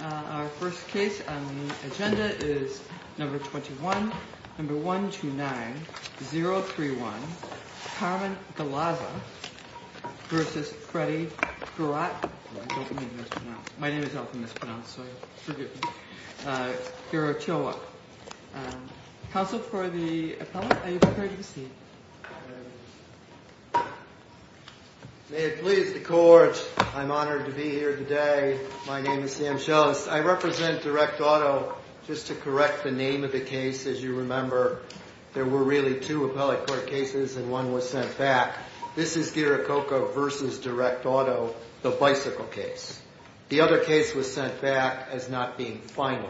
Our first case on the agenda is No. 21, No. 129-031, Carmen Galaza v. Freddy Gurat, Guirachocha. Counsel for the appellant, are you prepared to proceed? May it please the court, I'm honored to be here today. My name is Sam Scheles. I represent Direct Auto. Just to correct the name of the case, as you remember, there were really two appellate court cases and one was sent back. This is Guirachocha v. Direct Auto, the bicycle case. The other case was sent back as not being final.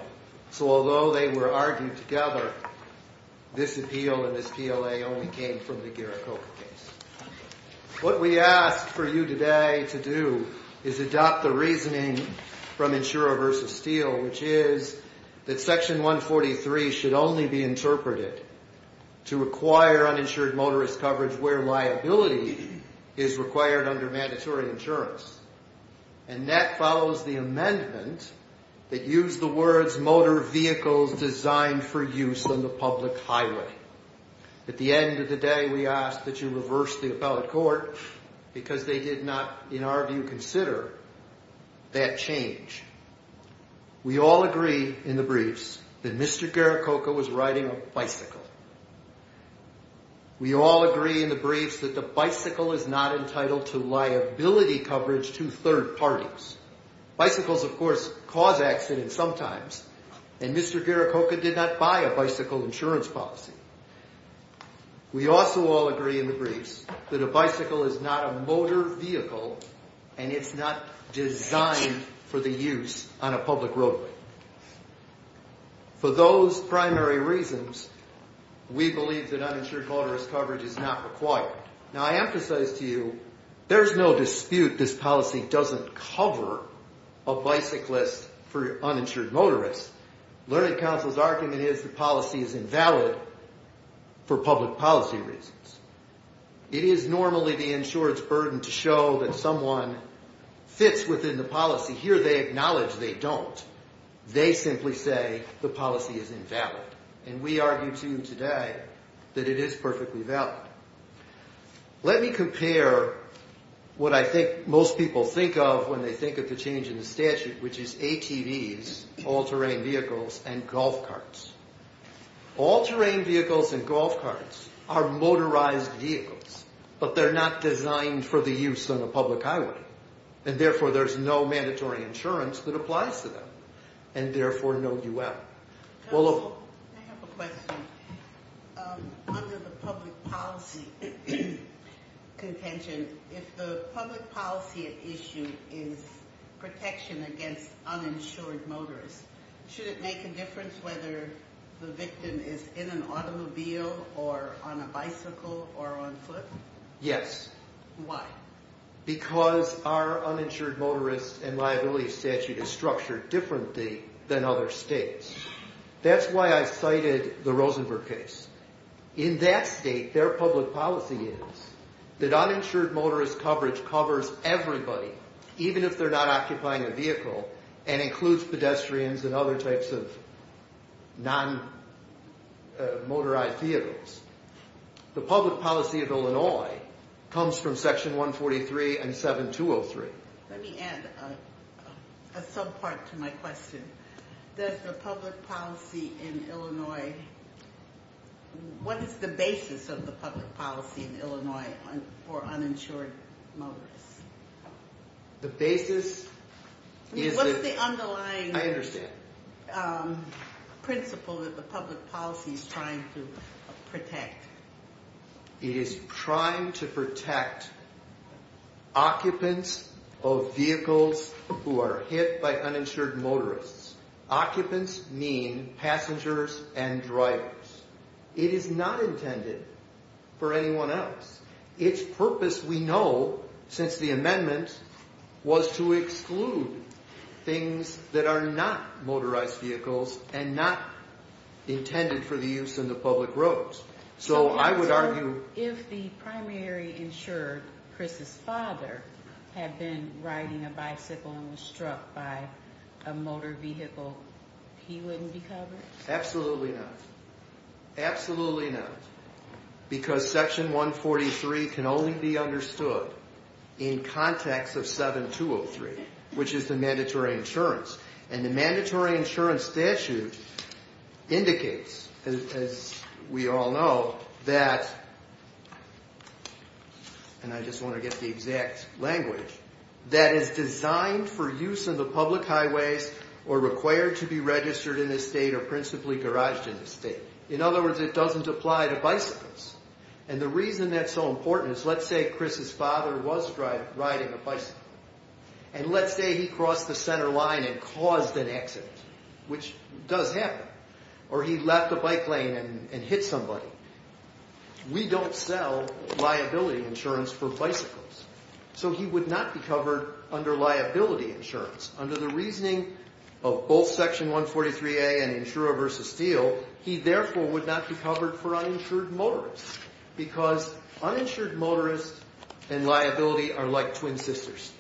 So although they were argued together, this appeal and this PLA only came from the Guirachocha case. What we ask for you today to do is adopt the reasoning from Insurer v. Steele, which is that Section 143 should only be interpreted to require uninsured motorist coverage where liability is required under mandatory insurance. And that follows the amendment that used the words motor vehicles designed for use on the public highway. At the end of the day, we ask that you reverse the appellate court because they did not, in our view, consider that change. We all agree in the briefs that Mr. Guirachocha was riding a bicycle. We all agree in the briefs that the bicycle is not entitled to liability coverage to third parties. Bicycles, of course, cause accidents sometimes, and Mr. Guirachocha did not buy a bicycle insurance policy. We also all agree in the briefs that a bicycle is not a motor vehicle and it's not designed for the use on a public roadway. For those primary reasons, we believe that uninsured motorist coverage is not required. Now, I emphasize to you, there's no dispute this policy doesn't cover a bicyclist for uninsured motorist. Learning Council's argument is the policy is invalid for public policy reasons. It is normally the insurer's burden to show that someone fits within the policy. Here they acknowledge they don't. They simply say the policy is invalid, and we argue to you today that it is perfectly valid. Let me compare what I think most people think of when they think of the change in the statute, which is ATVs, all-terrain vehicles, and golf carts. All-terrain vehicles and golf carts are motorized vehicles, but they're not designed for the use on a public highway, and therefore there's no mandatory insurance that applies to them, and therefore no UL. I have a question. Under the public policy contention, if the public policy at issue is protection against uninsured motorists, should it make a difference whether the victim is in an automobile or on a bicycle or on foot? Yes. Why? Because our uninsured motorist and liability statute is structured differently than other states. That's why I cited the Rosenberg case. In that state, their public policy is that uninsured motorist coverage covers everybody, even if they're not occupying a vehicle, and includes pedestrians and other types of non-motorized vehicles. The public policy of Illinois comes from Section 143 and 7203. Let me add a sub-part to my question. What is the basis of the public policy in Illinois for uninsured motorists? What's the underlying principle that the public policy is trying to protect? It is trying to protect occupants of vehicles who are hit by uninsured motorists. Occupants mean passengers and drivers. It is not intended for anyone else. Its purpose, we know, since the amendment, was to exclude things that are not motorized vehicles and not intended for the use in the public roads. So if the primary insured, Chris's father, had been riding a bicycle and was struck by a motor vehicle, he wouldn't be covered? Absolutely not. Absolutely not. Because Section 143 can only be understood in context of 7203, which is the mandatory insurance. And the mandatory insurance statute indicates, as we all know, that, and I just want to get the exact language, that it's designed for use in the public highways or required to be registered in the state or principally garaged in the state. In other words, it doesn't apply to bicycles. And the reason that's so important is, let's say Chris's father was riding a bicycle, and let's say he crossed the center line and caused an accident, which does happen, or he left a bike lane and hit somebody. We don't sell liability insurance for bicycles. So he would not be covered under liability insurance. Under the reasoning of both Section 143A and Insurer v. Steele, he therefore would not be covered for uninsured motorists, because uninsured motorists and liability are like twin sisters.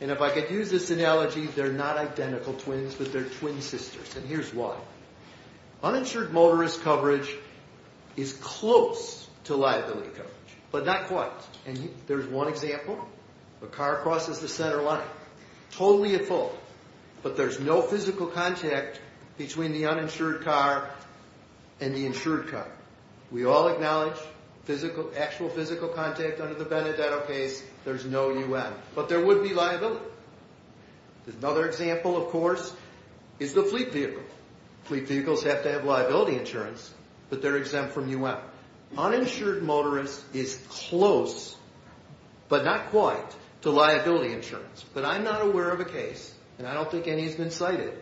And if I could use this analogy, they're not identical twins, but they're twin sisters. And here's why. Uninsured motorist coverage is close to liability coverage, but not quite. And there's one example. A car crosses the center line, totally at fault, but there's no physical contact between the uninsured car and the insured car. We all acknowledge actual physical contact under the Benedetto case, there's no U.N., but there would be liability. Another example, of course, is the fleet vehicle. Fleet vehicles have to have liability insurance, but they're exempt from U.M. Uninsured motorist is close, but not quite, to liability insurance. But I'm not aware of a case, and I don't think any has been cited,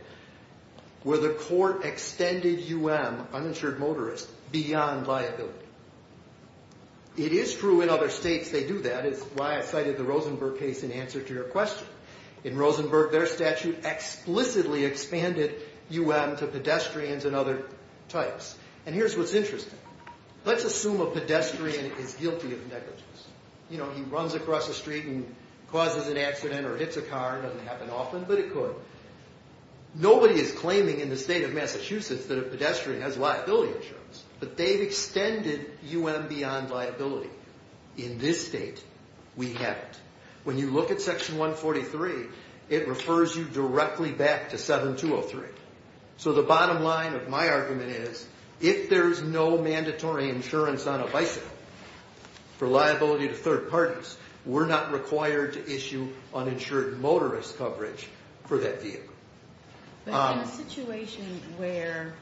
where the court extended U.M., uninsured motorist, beyond liability. It is true in other states they do that, is why I cited the Rosenberg case in answer to your question. In Rosenberg, their statute explicitly expanded U.M. to pedestrians and other types. And here's what's interesting. Let's assume a pedestrian is guilty of negligence. You know, he runs across the street and causes an accident or hits a car, doesn't happen often, but it could. Nobody is claiming in the state of Massachusetts that a pedestrian has liability insurance, but they've extended U.M. beyond liability. In this state, we haven't. When you look at Section 143, it refers you directly back to 7203. So the bottom line of my argument is, if there's no mandatory insurance on a bicycle for liability to third parties, we're not required to issue uninsured motorist coverage for that vehicle. But in a situation where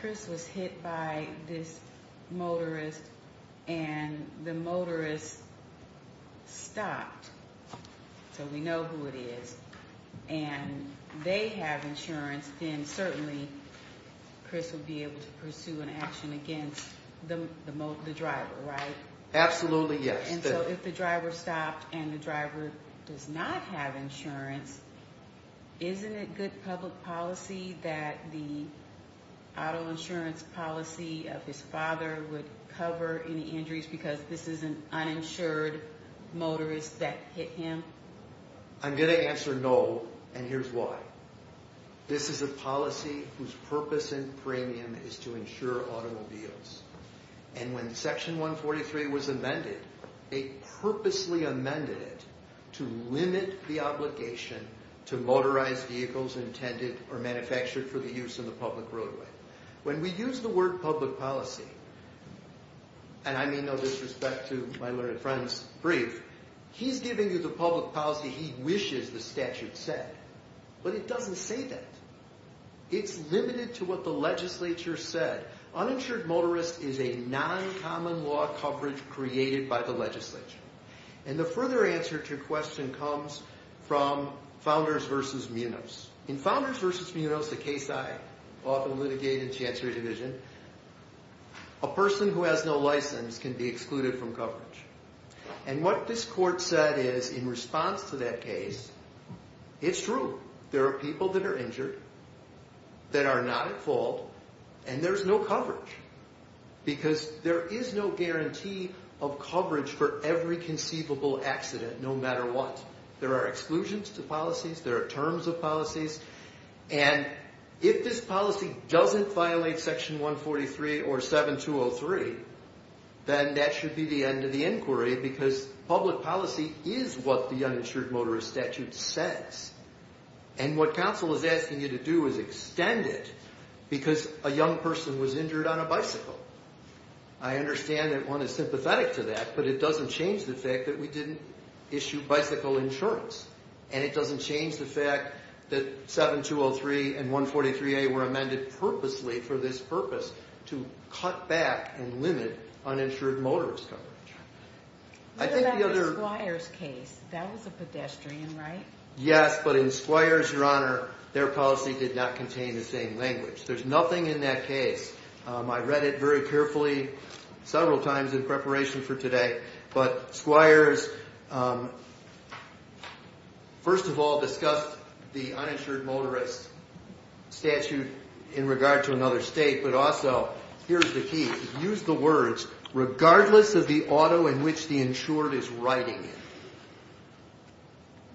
Chris was hit by this motorist and the motorist stopped, so we know who it is, and they have insurance, then certainly Chris would be able to pursue an action against the driver, right? Absolutely, yes. And so if the driver stopped and the driver does not have insurance, isn't it good public policy that the auto insurance policy of his father would cover any injuries because this is an uninsured motorist that hit him? I'm going to answer no, and here's why. This is a policy whose purpose and premium is to insure automobiles. And when Section 143 was amended, they purposely amended it to limit the obligation to motorized vehicles intended or manufactured for the use of the public roadway. When we use the word public policy, and I mean no disrespect to my learned friend's brief, he's giving you the public policy he wishes the statute said. But it doesn't say that. It's limited to what the legislature said. Uninsured motorist is a non-common law coverage created by the legislature. And the further answer to your question comes from Founders v. Munoz. In Founders v. Munoz, the case I often litigate in the Chancellor's Division, a person who has no license can be excluded from coverage. And what this court said is, in response to that case, it's true. There are people that are injured, that are not at fault, and there's no coverage. Because there is no guarantee of coverage for every conceivable accident, no matter what. There are exclusions to policies. There are terms of policies. And if this policy doesn't violate Section 143 or 7203, then that should be the end of the inquiry because public policy is what the Uninsured Motorist Statute says. And what counsel is asking you to do is extend it because a young person was injured on a bicycle. I understand that one is sympathetic to that, but it doesn't change the fact that we didn't issue bicycle insurance. And it doesn't change the fact that 7203 and 143A were amended purposely for this purpose to cut back and limit uninsured motorist coverage. What about the Squires case? That was a pedestrian, right?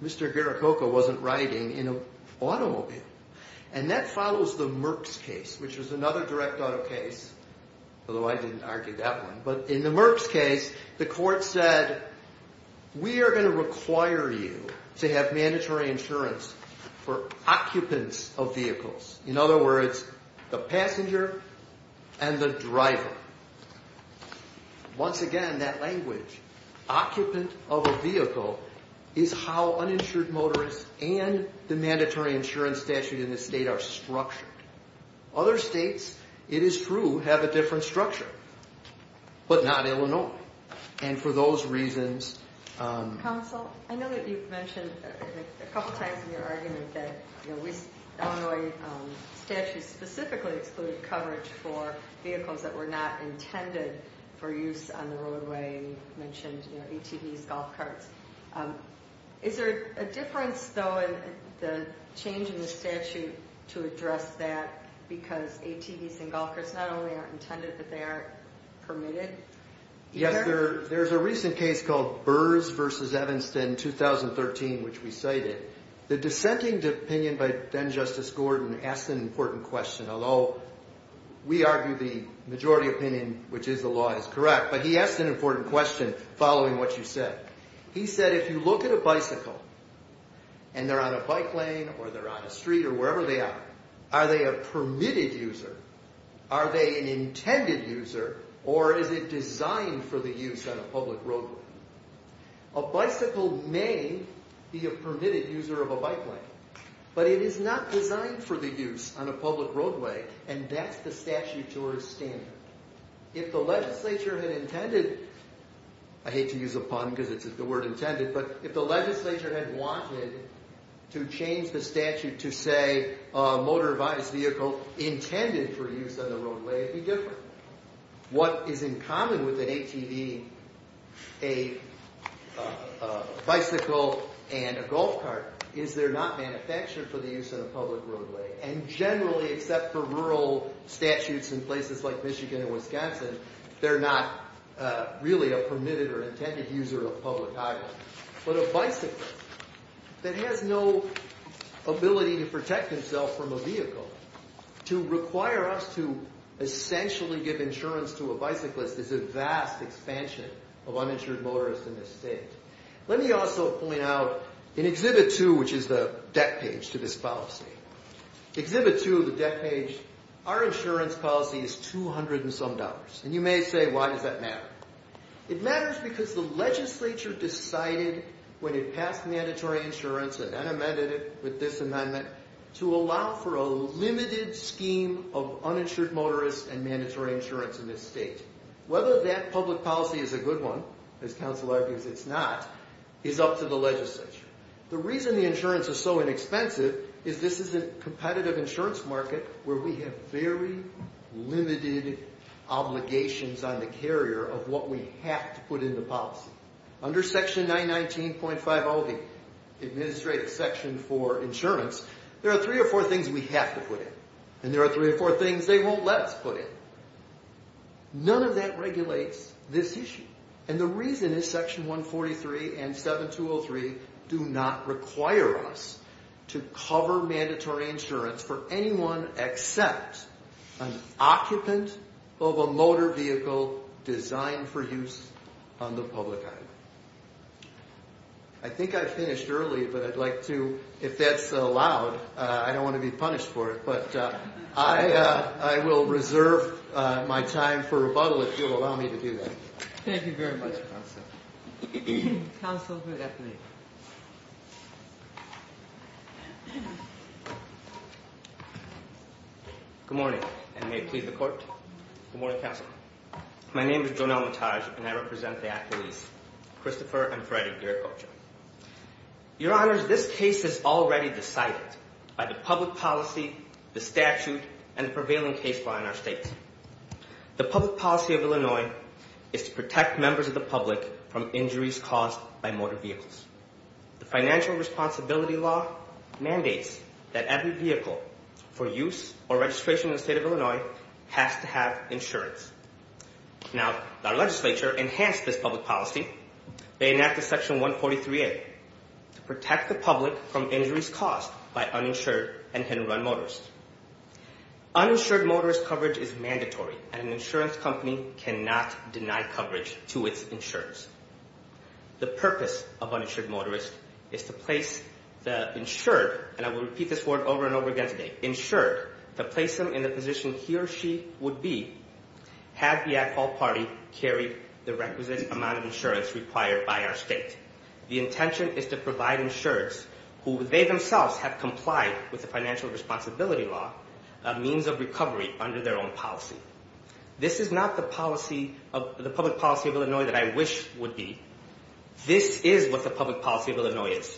Mr. Garrococo wasn't riding in an automobile. And that follows the Merck's case, which was another direct auto case, although I didn't argue that one. But in the Merck's case, the court said, we are going to require you to have mandatory insurance for occupants of vehicles. In other words, the passenger and the driver. Once again, that language, occupant of a vehicle, is how uninsured motorists and the mandatory insurance statute in this state are structured. Other states, it is true, have a different structure, but not Illinois. And for those reasons... Counsel, I know that you've mentioned a couple times in your argument that the Illinois statute specifically excluded coverage for vehicles that were not intended for use on the roadway. You mentioned ATVs, golf carts. Is there a difference, though, in the change in the statute to address that because ATVs and golf carts not only aren't intended, but they aren't permitted? Yes, there's a recent case called Burrs v. Evanston, 2013, which we cited. The dissenting opinion by then-Justice Gordon asked an important question, although we argue the majority opinion, which is the law, is correct. But he asked an important question following what you said. He said, if you look at a bicycle and they're on a bike lane or they're on a street or wherever they are, are they a permitted user, are they an intended user, or is it designed for the use on a public roadway? A bicycle may be a permitted user of a bike lane, but it is not designed for the use on a public roadway, and that's the statute's standard. If the legislature had intended... I hate to use the pun because it's the word intended, but if the legislature had wanted to change the statute to say a motorized vehicle intended for use on the roadway, it'd be different. What is in common with an ATV, a bicycle, and a golf cart is they're not manufactured for the use on a public roadway. And generally, except for rural statutes in places like Michigan and Wisconsin, they're not really a permitted or intended user of public highways. But a bicyclist that has no ability to protect himself from a vehicle to require us to essentially give insurance to a bicyclist is a vast expansion of uninsured motorists in this state. Let me also point out in Exhibit 2, which is the deck page to this policy, Exhibit 2, the deck page, our insurance policy is 200 and some dollars. And you may say, why does that matter? It matters because the legislature decided when it passed mandatory insurance and then amended it with this amendment to allow for a limited scheme of uninsured motorists and mandatory insurance in this state. Whether that public policy is a good one, as counsel argues it's not, is up to the legislature. The reason the insurance is so inexpensive is this is a competitive insurance market where we have very limited obligations on the carrier of what we have to put into policy. Under Section 919.50, the Administrative Section for Insurance, there are three or four things we have to put in and there are three or four things they won't let us put in. None of that regulates this issue. And the reason is Section 143 and 7203 do not require us to cover mandatory insurance for anyone except an occupant of a motor vehicle designed for use on the public island. I think I finished early, but I'd like to, if that's allowed, I don't want to be punished for it, but I will reserve my time for rebuttal if you'll allow me to do that. Thank you very much, counsel. Counsel, good afternoon. Good morning and may it please the court. Good morning, counsel. Good afternoon. My name is Jonel Mataj and I represent the accolades, Christopher and Freddie Gierkocher. Your Honors, this case is already decided by the public policy, the statute, and the prevailing case law in our state. The public policy of Illinois is to protect members of the public from injuries caused by motor vehicles. The financial responsibility law mandates that every vehicle for use or registration in the state of Illinois has to have insurance. Now, our legislature enhanced this public policy. They enacted Section 143A to protect the public from injuries caused by uninsured and hit-and-run motors. Uninsured motorist coverage is mandatory and an insurance company cannot deny coverage to its insurers. The purpose of uninsured motorist is to place the insured, and I will repeat this word over and over again today, insured, to place them in the position he or she would be had the at-fault party carried the requisite amount of insurance required by our state. The intention is to provide insurers who they themselves have complied with the financial responsibility law a means of recovery under their own policy. This is not the public policy of Illinois that I wish would be. This is what the public policy of Illinois is,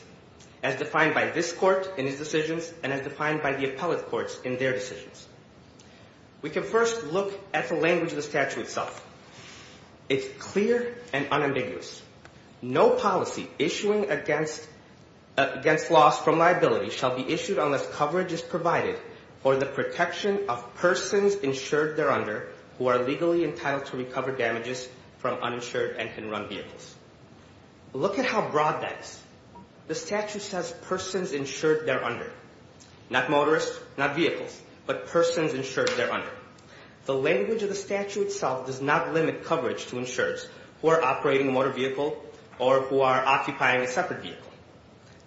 as defined by this court in its decisions and as defined by the appellate courts in their decisions. We can first look at the language of the statute itself. It's clear and unambiguous. No policy issuing against loss from liability shall be issued unless coverage is provided for the protection of persons insured thereunder who are legally entitled to recover damages from uninsured and hit-and-run vehicles. Look at how broad that is. The statute says persons insured thereunder, not motorists, not vehicles, but persons insured thereunder. However, the language of the statute itself does not limit coverage to insurers who are operating a motor vehicle or who are occupying a separate vehicle.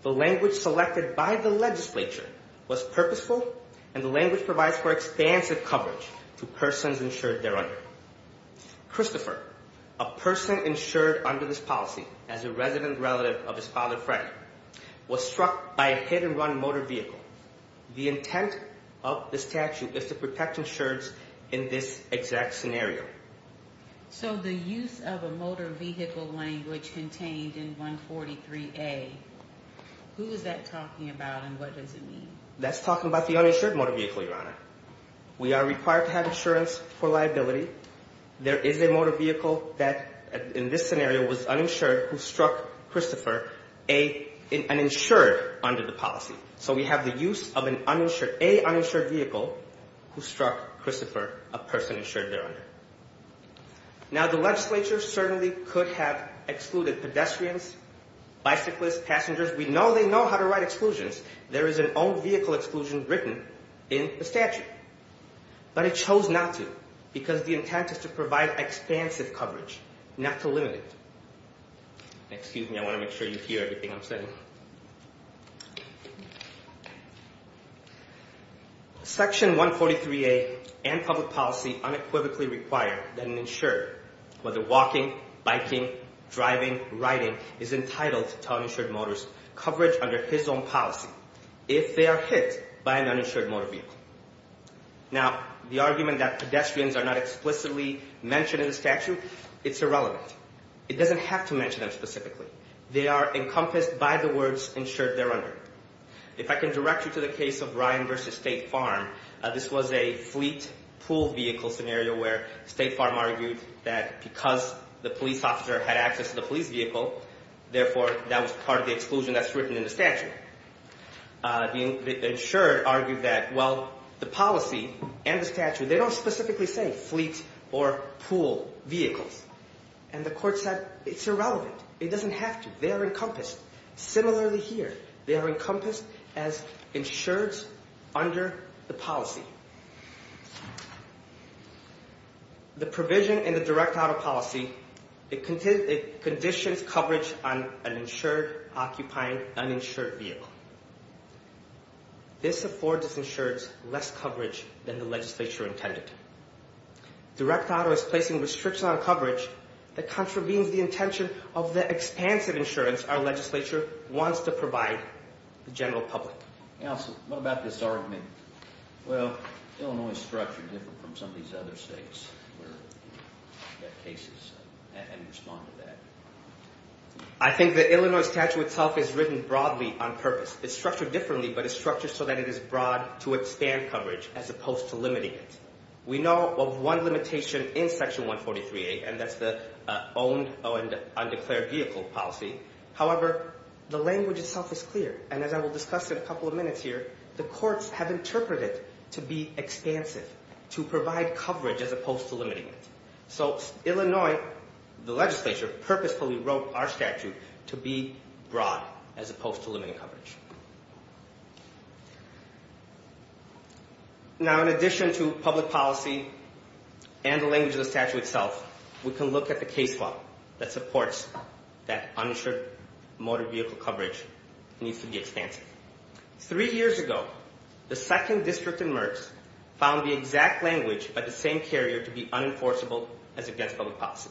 The language selected by the legislature was purposeful, and the language provides for expansive coverage to persons insured thereunder. Christopher, a person insured under this policy as a resident relative of his father Fred, was struck by a hit-and-run motor vehicle. The intent of the statute is to protect insureds in this exact scenario. So the use of a motor vehicle language contained in 143A, who is that talking about and what does it mean? That's talking about the uninsured motor vehicle, Your Honor. We are required to have insurance for liability. There is a motor vehicle that, in this scenario, was uninsured who struck Christopher, an insured under the policy. So we have the use of an uninsured, a uninsured vehicle who struck Christopher, a person insured thereunder. Now, the legislature certainly could have excluded pedestrians, bicyclists, passengers. We know they know how to write exclusions. There is an own vehicle exclusion written in the statute. But it chose not to because the intent is to provide expansive coverage, not to limit it. Excuse me, I want to make sure you hear everything I'm saying. Section 143A and public policy unequivocally require that an insured, whether walking, biking, driving, riding, is entitled to uninsured motorist coverage under his own policy if they are hit by an uninsured motor vehicle. Now, the argument that pedestrians are not explicitly mentioned in the statute, it's irrelevant. It doesn't have to mention them specifically. They are encompassed by the words insured thereunder. If I can direct you to the case of Ryan v. State Farm, this was a fleet pool vehicle scenario where State Farm argued that because the police officer had access to the police vehicle, therefore, that was part of the exclusion that's written in the statute. The insured argued that, well, the policy and the statute, they don't specifically say fleet or pool vehicles. And the court said it's irrelevant. It doesn't have to. They are encompassed. Similarly here, they are encompassed as insureds under the policy. The provision in the direct auto policy, it conditions coverage on an insured, occupying, uninsured vehicle. This affords insureds less coverage than the legislature intended. Direct auto is placing restrictions on coverage that contravenes the intention of the expansive insurance our legislature wants to provide the general public. Counsel, what about this argument? Well, Illinois is structured different from some of these other states where we have cases and respond to that. I think the Illinois statute itself is written broadly on purpose. It's structured differently, but it's structured so that it is broad to expand coverage as opposed to limiting it. We know of one limitation in Section 143A, and that's the owned and undeclared vehicle policy. However, the language itself is clear, and as I will discuss in a couple of minutes here, the courts have interpreted to be expansive, to provide coverage as opposed to limiting it. So Illinois, the legislature, purposefully wrote our statute to be broad as opposed to limiting coverage. Now, in addition to public policy and the language of the statute itself, we can look at the case law that supports that uninsured motor vehicle coverage needs to be expansive. Three years ago, the second district in MERS found the exact language by the same carrier to be unenforceable as against public policy,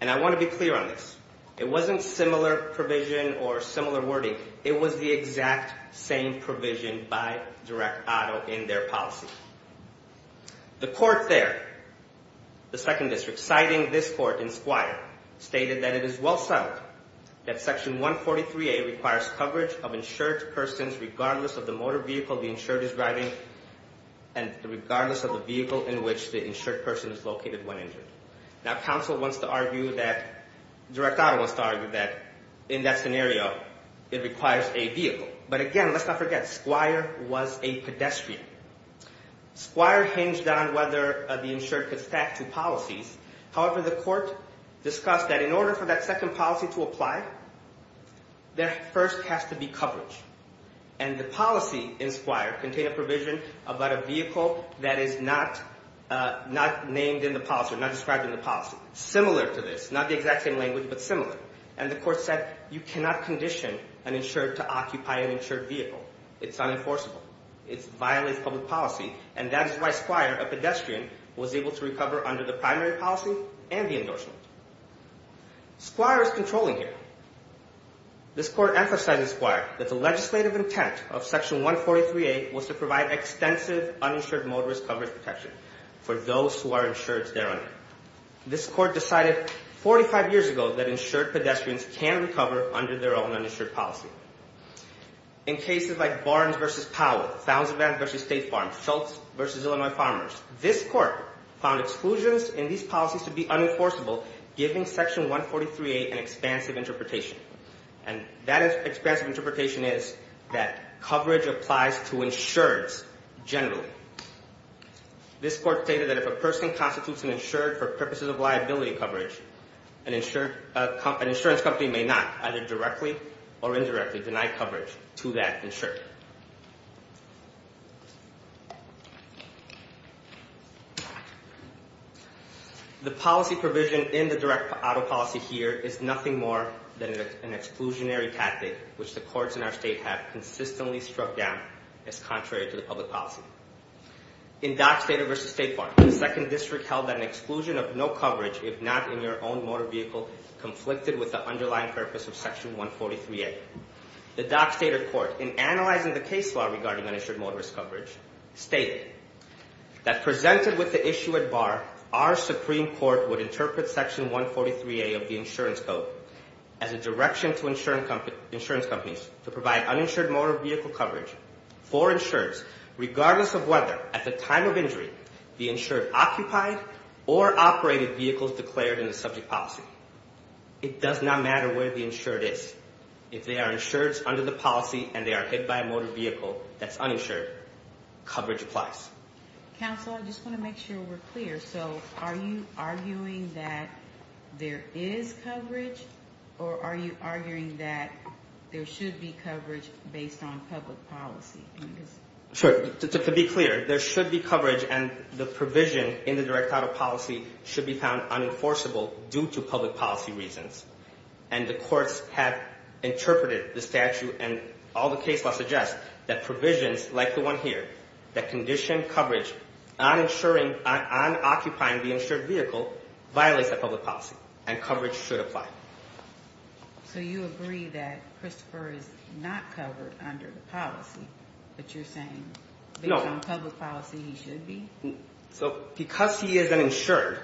and I want to be clear on this. It wasn't similar provision or similar wording. It was the exact same provision by Direct Auto in their policy. The court there, the second district, citing this court in Squire, stated that it is well sound that Section 143A requires coverage of insured persons regardless of the motor vehicle the insured is driving and regardless of the vehicle in which the insured person is located when injured. Now, counsel wants to argue that, Direct Auto wants to argue that, in that scenario, it requires a vehicle. But again, let's not forget, Squire was a pedestrian. Squire hinged on whether the insured could stack two policies. Similar to this. Not the exact same language, but similar. And the court said, you cannot condition an insured to occupy an insured vehicle. It's unenforceable. It violates public policy, and that is why Squire, a pedestrian, was able to recover under the primary policy and the endorsement. Squire is controlling here. This court emphasized in Squire that the legislative intent of Section 143A was to provide extensive uninsured motorist coverage protection for those who are insured thereon. This court decided 45 years ago that insured pedestrians can recover under their own uninsured policy. In cases like Barnes v. Powell, Thousand Valleys v. State Farms, Schultz v. Illinois Farmers, this court found exclusions in these policies to be unenforceable, giving Section 143A an expansive interpretation. And that expansive interpretation is that coverage applies to insureds generally. This court stated that if a person constitutes an insured for purposes of liability coverage, an insurance company may not either directly or indirectly deny coverage to that insured. The policy provision in the direct auto policy here is nothing more than an exclusionary tactic, which the courts in our state have consistently struck down as contrary to the public policy. In Dockstader v. State Farms, the 2nd District held that an exclusion of no coverage, if not in your own motor vehicle, conflicted with the underlying purpose of Section 143A. The Dockstader court, in analyzing the case law regarding uninsured motorist coverage, stated that presented with the issue at bar, our Supreme Court would interpret Section 143A of the insurance code as a direction to insurance companies to provide uninsured motor vehicle coverage for insureds, regardless of whether, at the time of injury, the insured occupied or operated vehicles declared in the subject policy. It does not matter where the insured is. If they are insured under the policy and they are hit by a motor vehicle that's uninsured, coverage applies. Counsel, I just want to make sure we're clear. So are you arguing that there is coverage, or are you arguing that there should be coverage based on public policy? Sure. To be clear, there should be coverage, and the provision in the direct auto policy should be found unenforceable due to public policy reasons. And the courts have interpreted the statute and all the case laws suggest that provisions like the one here, that condition coverage on occupying the insured vehicle, violates that public policy, and coverage should apply. So you agree that Christopher is not covered under the policy, but you're saying based on public policy he should be? Because he is an insured,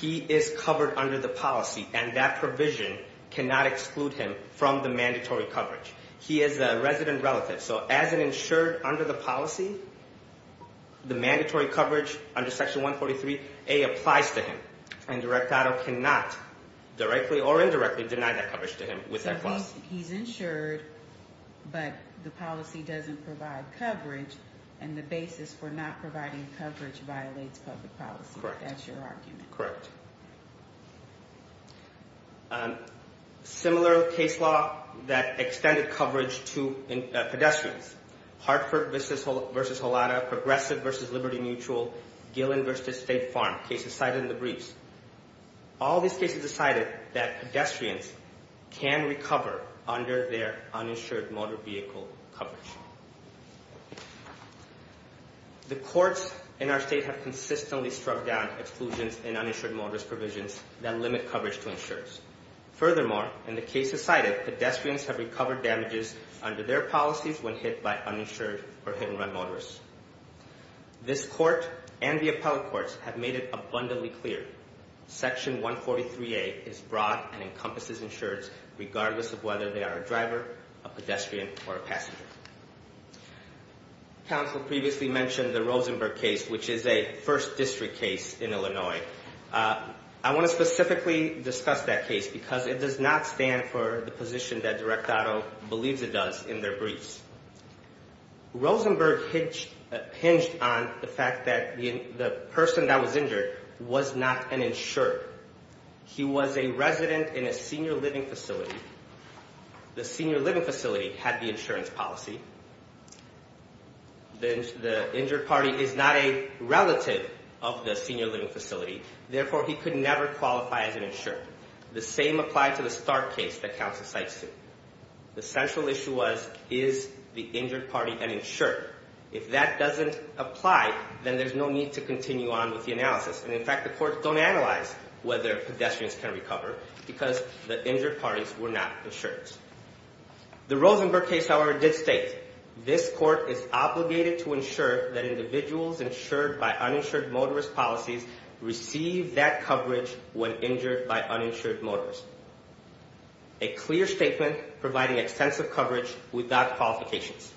he is covered under the policy, and that provision cannot exclude him from the mandatory coverage. He is a resident relative, so as an insured under the policy, the mandatory coverage under Section 143A applies to him, and the direct auto cannot directly or indirectly deny that coverage to him with that clause. So he's insured, but the policy doesn't provide coverage, and the basis for not providing coverage violates public policy. That's your argument. Correct. Similar case law that extended coverage to pedestrians. Hartford v. Holada, Progressive v. Liberty Mutual, Gillen v. State Farm, cases cited in the briefs. All these cases cited that pedestrians can recover under their uninsured motor vehicle coverage. The courts in our state have consistently struck down exclusions in uninsured motorist provisions that limit coverage to insurers. Furthermore, in the cases cited, pedestrians have recovered damages under their policies when hit by uninsured or hit-and-run motorists. This court and the appellate courts have made it abundantly clear. Section 143A is broad and encompasses insurers regardless of whether they are a driver, a pedestrian, or a passenger. Counsel previously mentioned the Rosenberg case, which is a First District case in Illinois. I want to specifically discuss that case because it does not stand for the position that direct auto believes it does in their briefs. Rosenberg hinged on the fact that the person that was injured was not an insurer. He was a resident in a senior living facility. The senior living facility had the insurance policy. The injured party is not a relative of the senior living facility. Therefore, he could never qualify as an insurer. The same applied to the Stark case that counsel cites here. The central issue was, is the injured party an insurer? If that doesn't apply, then there's no need to continue on with the analysis. And in fact, the courts don't analyze whether pedestrians can recover because the injured parties were not insurers. The Rosenberg case, however, did state, this court is obligated to ensure that individuals insured by uninsured motorist policies receive that coverage when injured by uninsured motorists. A clear statement providing extensive coverage without qualifications.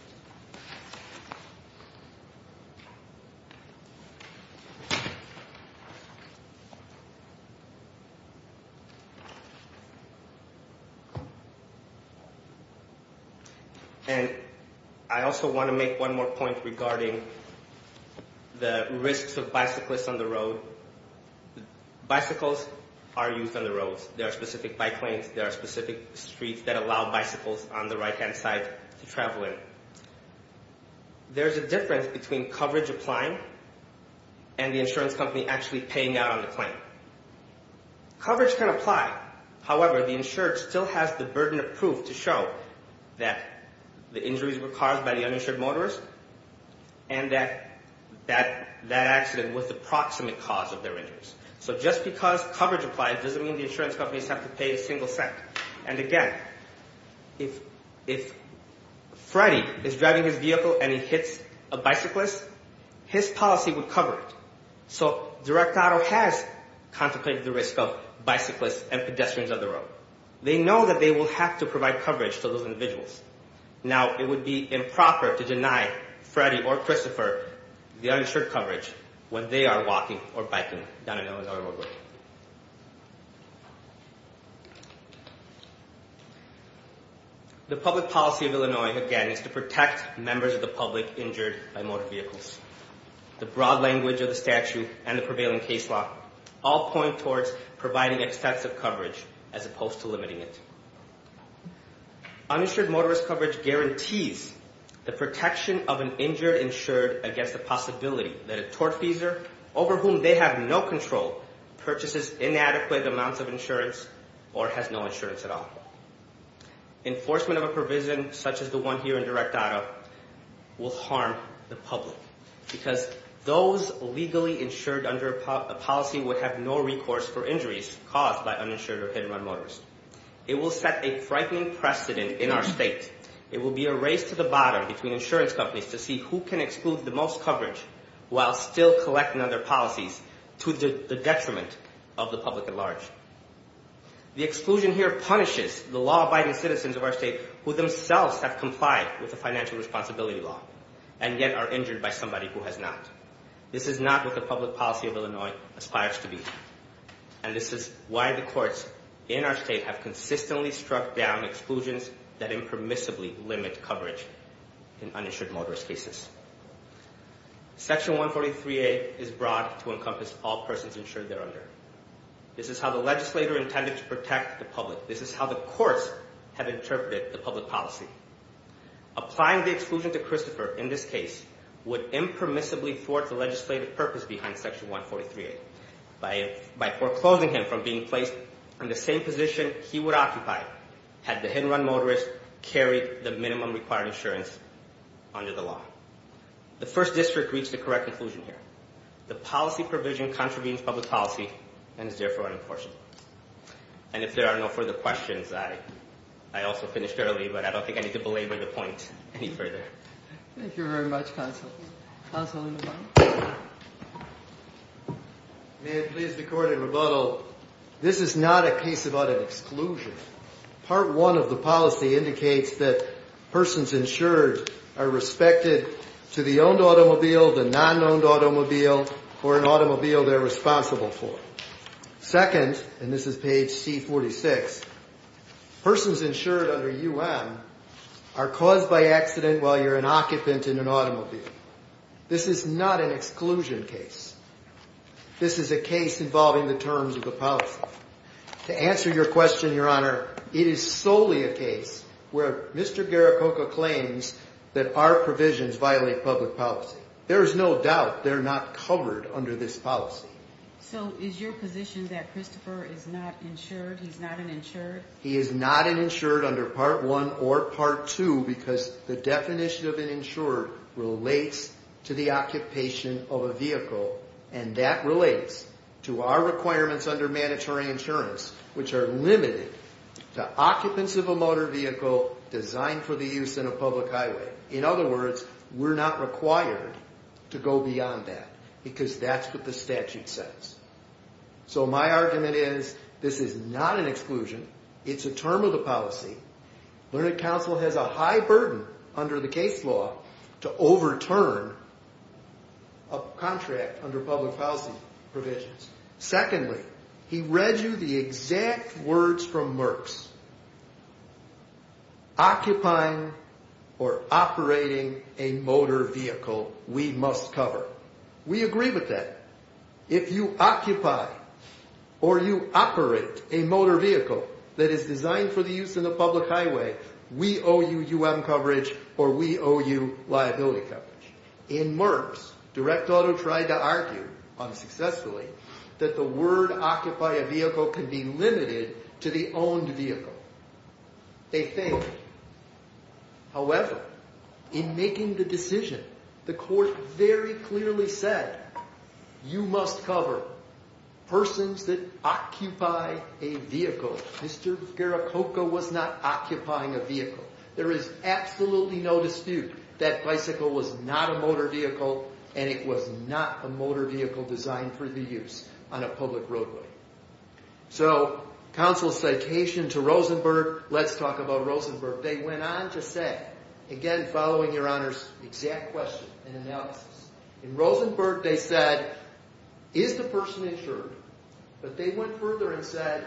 And I also want to make one more point regarding the risks of bicyclists on the road. Bicycles are used on the roads. There are specific bike lanes. There are specific streets that allow bicycles on the right-hand side to travel in. There's a difference between coverage applying and the insurance company actually paying out on the claim. Coverage can apply. However, the insured still has the burden of proof to show that the injuries were caused by the uninsured motorist and that that accident was the proximate cause of their injuries. So just because coverage applies doesn't mean the insurance companies have to pay a single cent. And again, if Freddie is driving his vehicle and he hits a bicyclist, his policy would cover it. So direct auto has contemplated the risk of bicyclists and pedestrians on the road. They know that they will have to provide coverage to those individuals. Now, it would be improper to deny Freddie or Christopher the uninsured coverage when they are walking or biking down an Illinois roadway. The public policy of Illinois, again, is to protect members of the public injured by motor vehicles. The broad language of the statute and the prevailing case law all point towards providing extensive coverage as opposed to limiting it. Uninsured motorist coverage guarantees the protection of an injured insured against the possibility that a tortfeasor over whom they have no control purchases inadequate amounts of insurance or has no insurance at all. Enforcement of a provision such as the one here in direct auto will harm the public because those legally insured under a policy would have no recourse for injuries caused by uninsured or hit-and-run motorists. It will set a frightening precedent in our state. It will be a race to the bottom between insurance companies to see who can exclude the most coverage while still collecting other policies to the detriment of the public at large. The exclusion here punishes the law-abiding citizens of our state who themselves have complied with the financial responsibility law and yet are injured by somebody who has not. This is not what the public policy of Illinois aspires to be. And this is why the courts in our state have consistently struck down exclusions that impermissibly limit coverage in uninsured motorist cases. Section 143A is broad to encompass all persons insured there under. This is how the legislator intended to protect the public. This is how the courts have interpreted the public policy. Applying the exclusion to Christopher in this case would impermissibly thwart the legislative purpose behind Section 143A by foreclosing him from being placed in the same position he would occupy had the hit-and-run motorist carried the minimum required insurance under the law. The First District reached a correct conclusion here. The policy provision contravenes public policy and is therefore unenforced. And if there are no further questions, I also finished early, but I don't think I need to belabor the point any further. Thank you very much, Counsel. Counsel in the back. May it please the Court in rebuttal. This is not a case about an exclusion. Part 1 of the policy indicates that persons insured are respected to the owned automobile, the non-owned automobile, or an automobile they're responsible for. Second, and this is page C46, persons insured under UM are caused by accident while you're an occupant in an automobile. This is not an exclusion case. This is a case involving the terms of the policy. To answer your question, Your Honor, it is solely a case where Mr. Garrococo claims that our provisions violate public policy. There is no doubt they're not covered under this policy. So is your position that Christopher is not insured? He's not an insured? He is not an insured under Part 1 or Part 2 because the definition of an insured relates to the occupation of a vehicle. And that relates to our requirements under mandatory insurance, which are limited to occupants of a motor vehicle designed for the use in a public highway. In other words, we're not required to go beyond that because that's what the statute says. So my argument is this is not an exclusion. It's a term of the policy. Learned Counsel has a high burden under the case law to overturn a contract under public policy provisions. Secondly, he read you the exact words from Merck's. Occupying or operating a motor vehicle we must cover. We agree with that. If you occupy or you operate a motor vehicle that is designed for the use in a public highway, we owe you U.M. coverage or we owe you liability coverage. In Merck's, Direct Auto tried to argue, unsuccessfully, that the word occupy a vehicle can be limited to the owned vehicle. They failed. However, in making the decision, the court very clearly said you must cover persons that occupy a vehicle. Mr. Garrococo was not occupying a vehicle. There is absolutely no dispute that bicycle was not a motor vehicle and it was not a motor vehicle designed for the use on a public roadway. So counsel's citation to Rosenberg, let's talk about Rosenberg. They went on to say, again following your Honor's exact question and analysis, in Rosenberg they said is the person insured? But they went further and said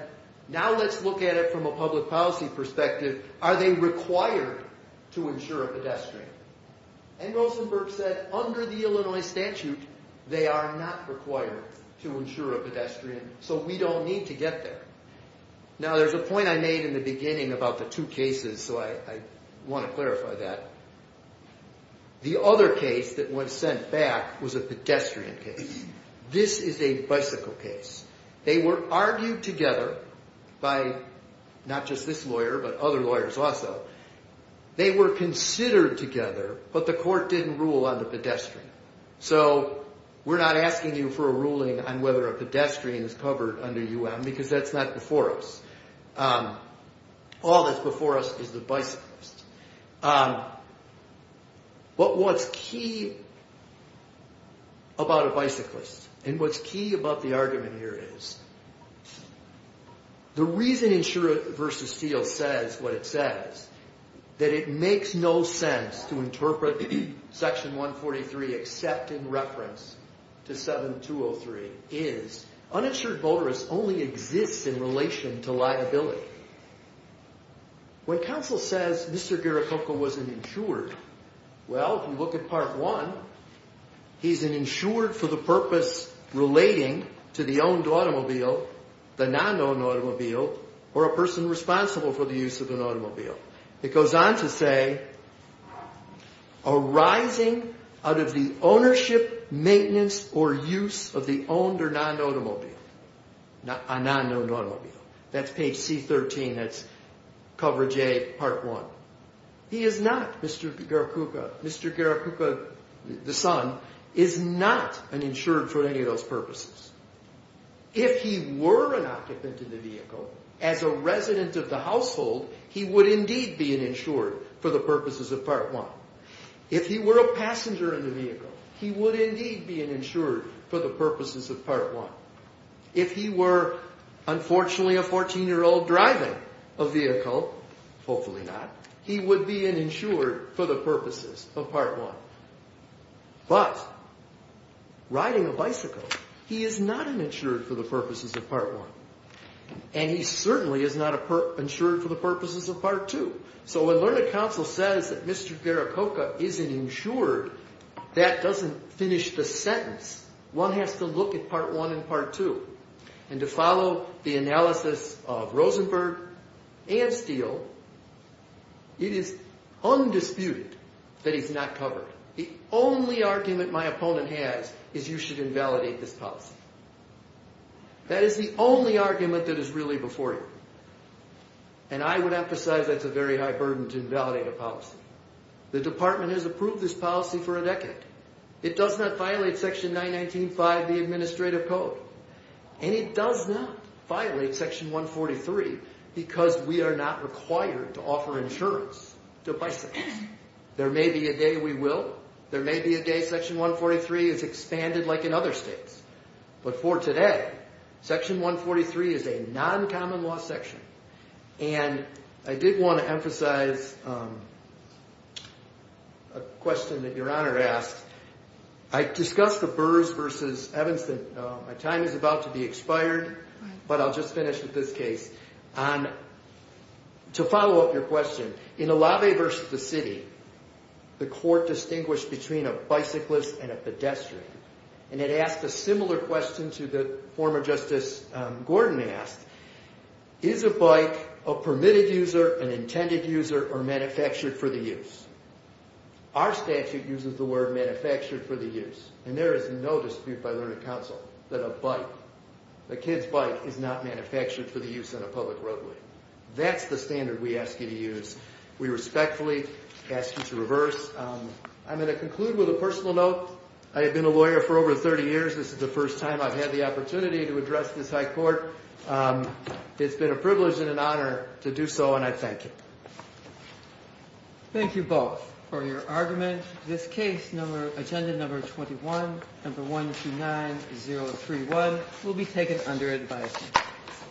now let's look at it from a public policy perspective. Are they required to insure a pedestrian? And Rosenberg said under the Illinois statute they are not required to insure a pedestrian. So we don't need to get there. Now there's a point I made in the beginning about the two cases so I want to clarify that. The other case that was sent back was a pedestrian case. This is a bicycle case. They were argued together by not just this lawyer but other lawyers also. They were considered together but the court didn't rule on the pedestrian. So we're not asking you for a ruling on whether a pedestrian is covered under UM because that's not before us. All that's before us is the bicyclist. But what's key about a bicyclist and what's key about the argument here is the reason Insurer v. Steele says what it says, that it makes no sense to interpret Section 143 except in reference to 7203, is uninsured motorists only exist in relation to liability. When counsel says Mr. Garricoco was an insured, well if you look at Part 1, he's an insured for the purpose relating to the owned automobile, the non-owned automobile, or a person responsible for the use of an automobile. It goes on to say arising out of the ownership, maintenance, or use of the owned or non-owned automobile. A non-owned automobile. That's page C13, that's cover J, Part 1. He is not Mr. Garricoco. Mr. Garricoco, the son, is not an insured for any of those purposes. If he were an occupant in the vehicle, as a resident of the household, he would indeed be an insured for the purposes of Part 1. If he were a passenger in the vehicle, he would indeed be an insured for the purposes of Part 1. If he were, unfortunately, a 14-year-old driving a vehicle, hopefully not, he would be an insured for the purposes of Part 1. But, riding a bicycle, he is not an insured for the purposes of Part 1. And he certainly is not an insured for the purposes of Part 2. So when Learned Counsel says that Mr. Garricoco is an insured, that doesn't finish the sentence. One has to look at Part 1 and Part 2. And to follow the analysis of Rosenberg and Steele, it is undisputed that he's not covered. The only argument my opponent has is you should invalidate this policy. That is the only argument that is really before you. And I would emphasize that's a very high burden to invalidate a policy. The Department has approved this policy for a decade. It does not violate Section 919.5 of the Administrative Code. And it does not violate Section 143 because we are not required to offer insurance to bicycles. There may be a day we will. There may be a day Section 143 is expanded like in other states. But for today, Section 143 is a non-common law section. And I did want to emphasize a question that Your Honor asked. I discussed the Burrs v. Evanston. My time is about to be expired, but I'll just finish with this case. To follow up your question, in Alave v. The City, the court distinguished between a bicyclist and a pedestrian. And it asked a similar question to the former Justice Gordon asked. Is a bike a permitted user, an intended user, or manufactured for the use? Our statute uses the word manufactured for the use. And there is no dispute by learning counsel that a bike, a kid's bike, is not manufactured for the use on a public roadway. That's the standard we ask you to use. We respectfully ask you to reverse. I'm going to conclude with a personal note. I have been a lawyer for over 30 years. This is the first time I've had the opportunity to address this High Court. It's been a privilege and an honor to do so, and I thank you. Thank you both for your argument. This case, agenda number 21, number 129031, will be taken under advice.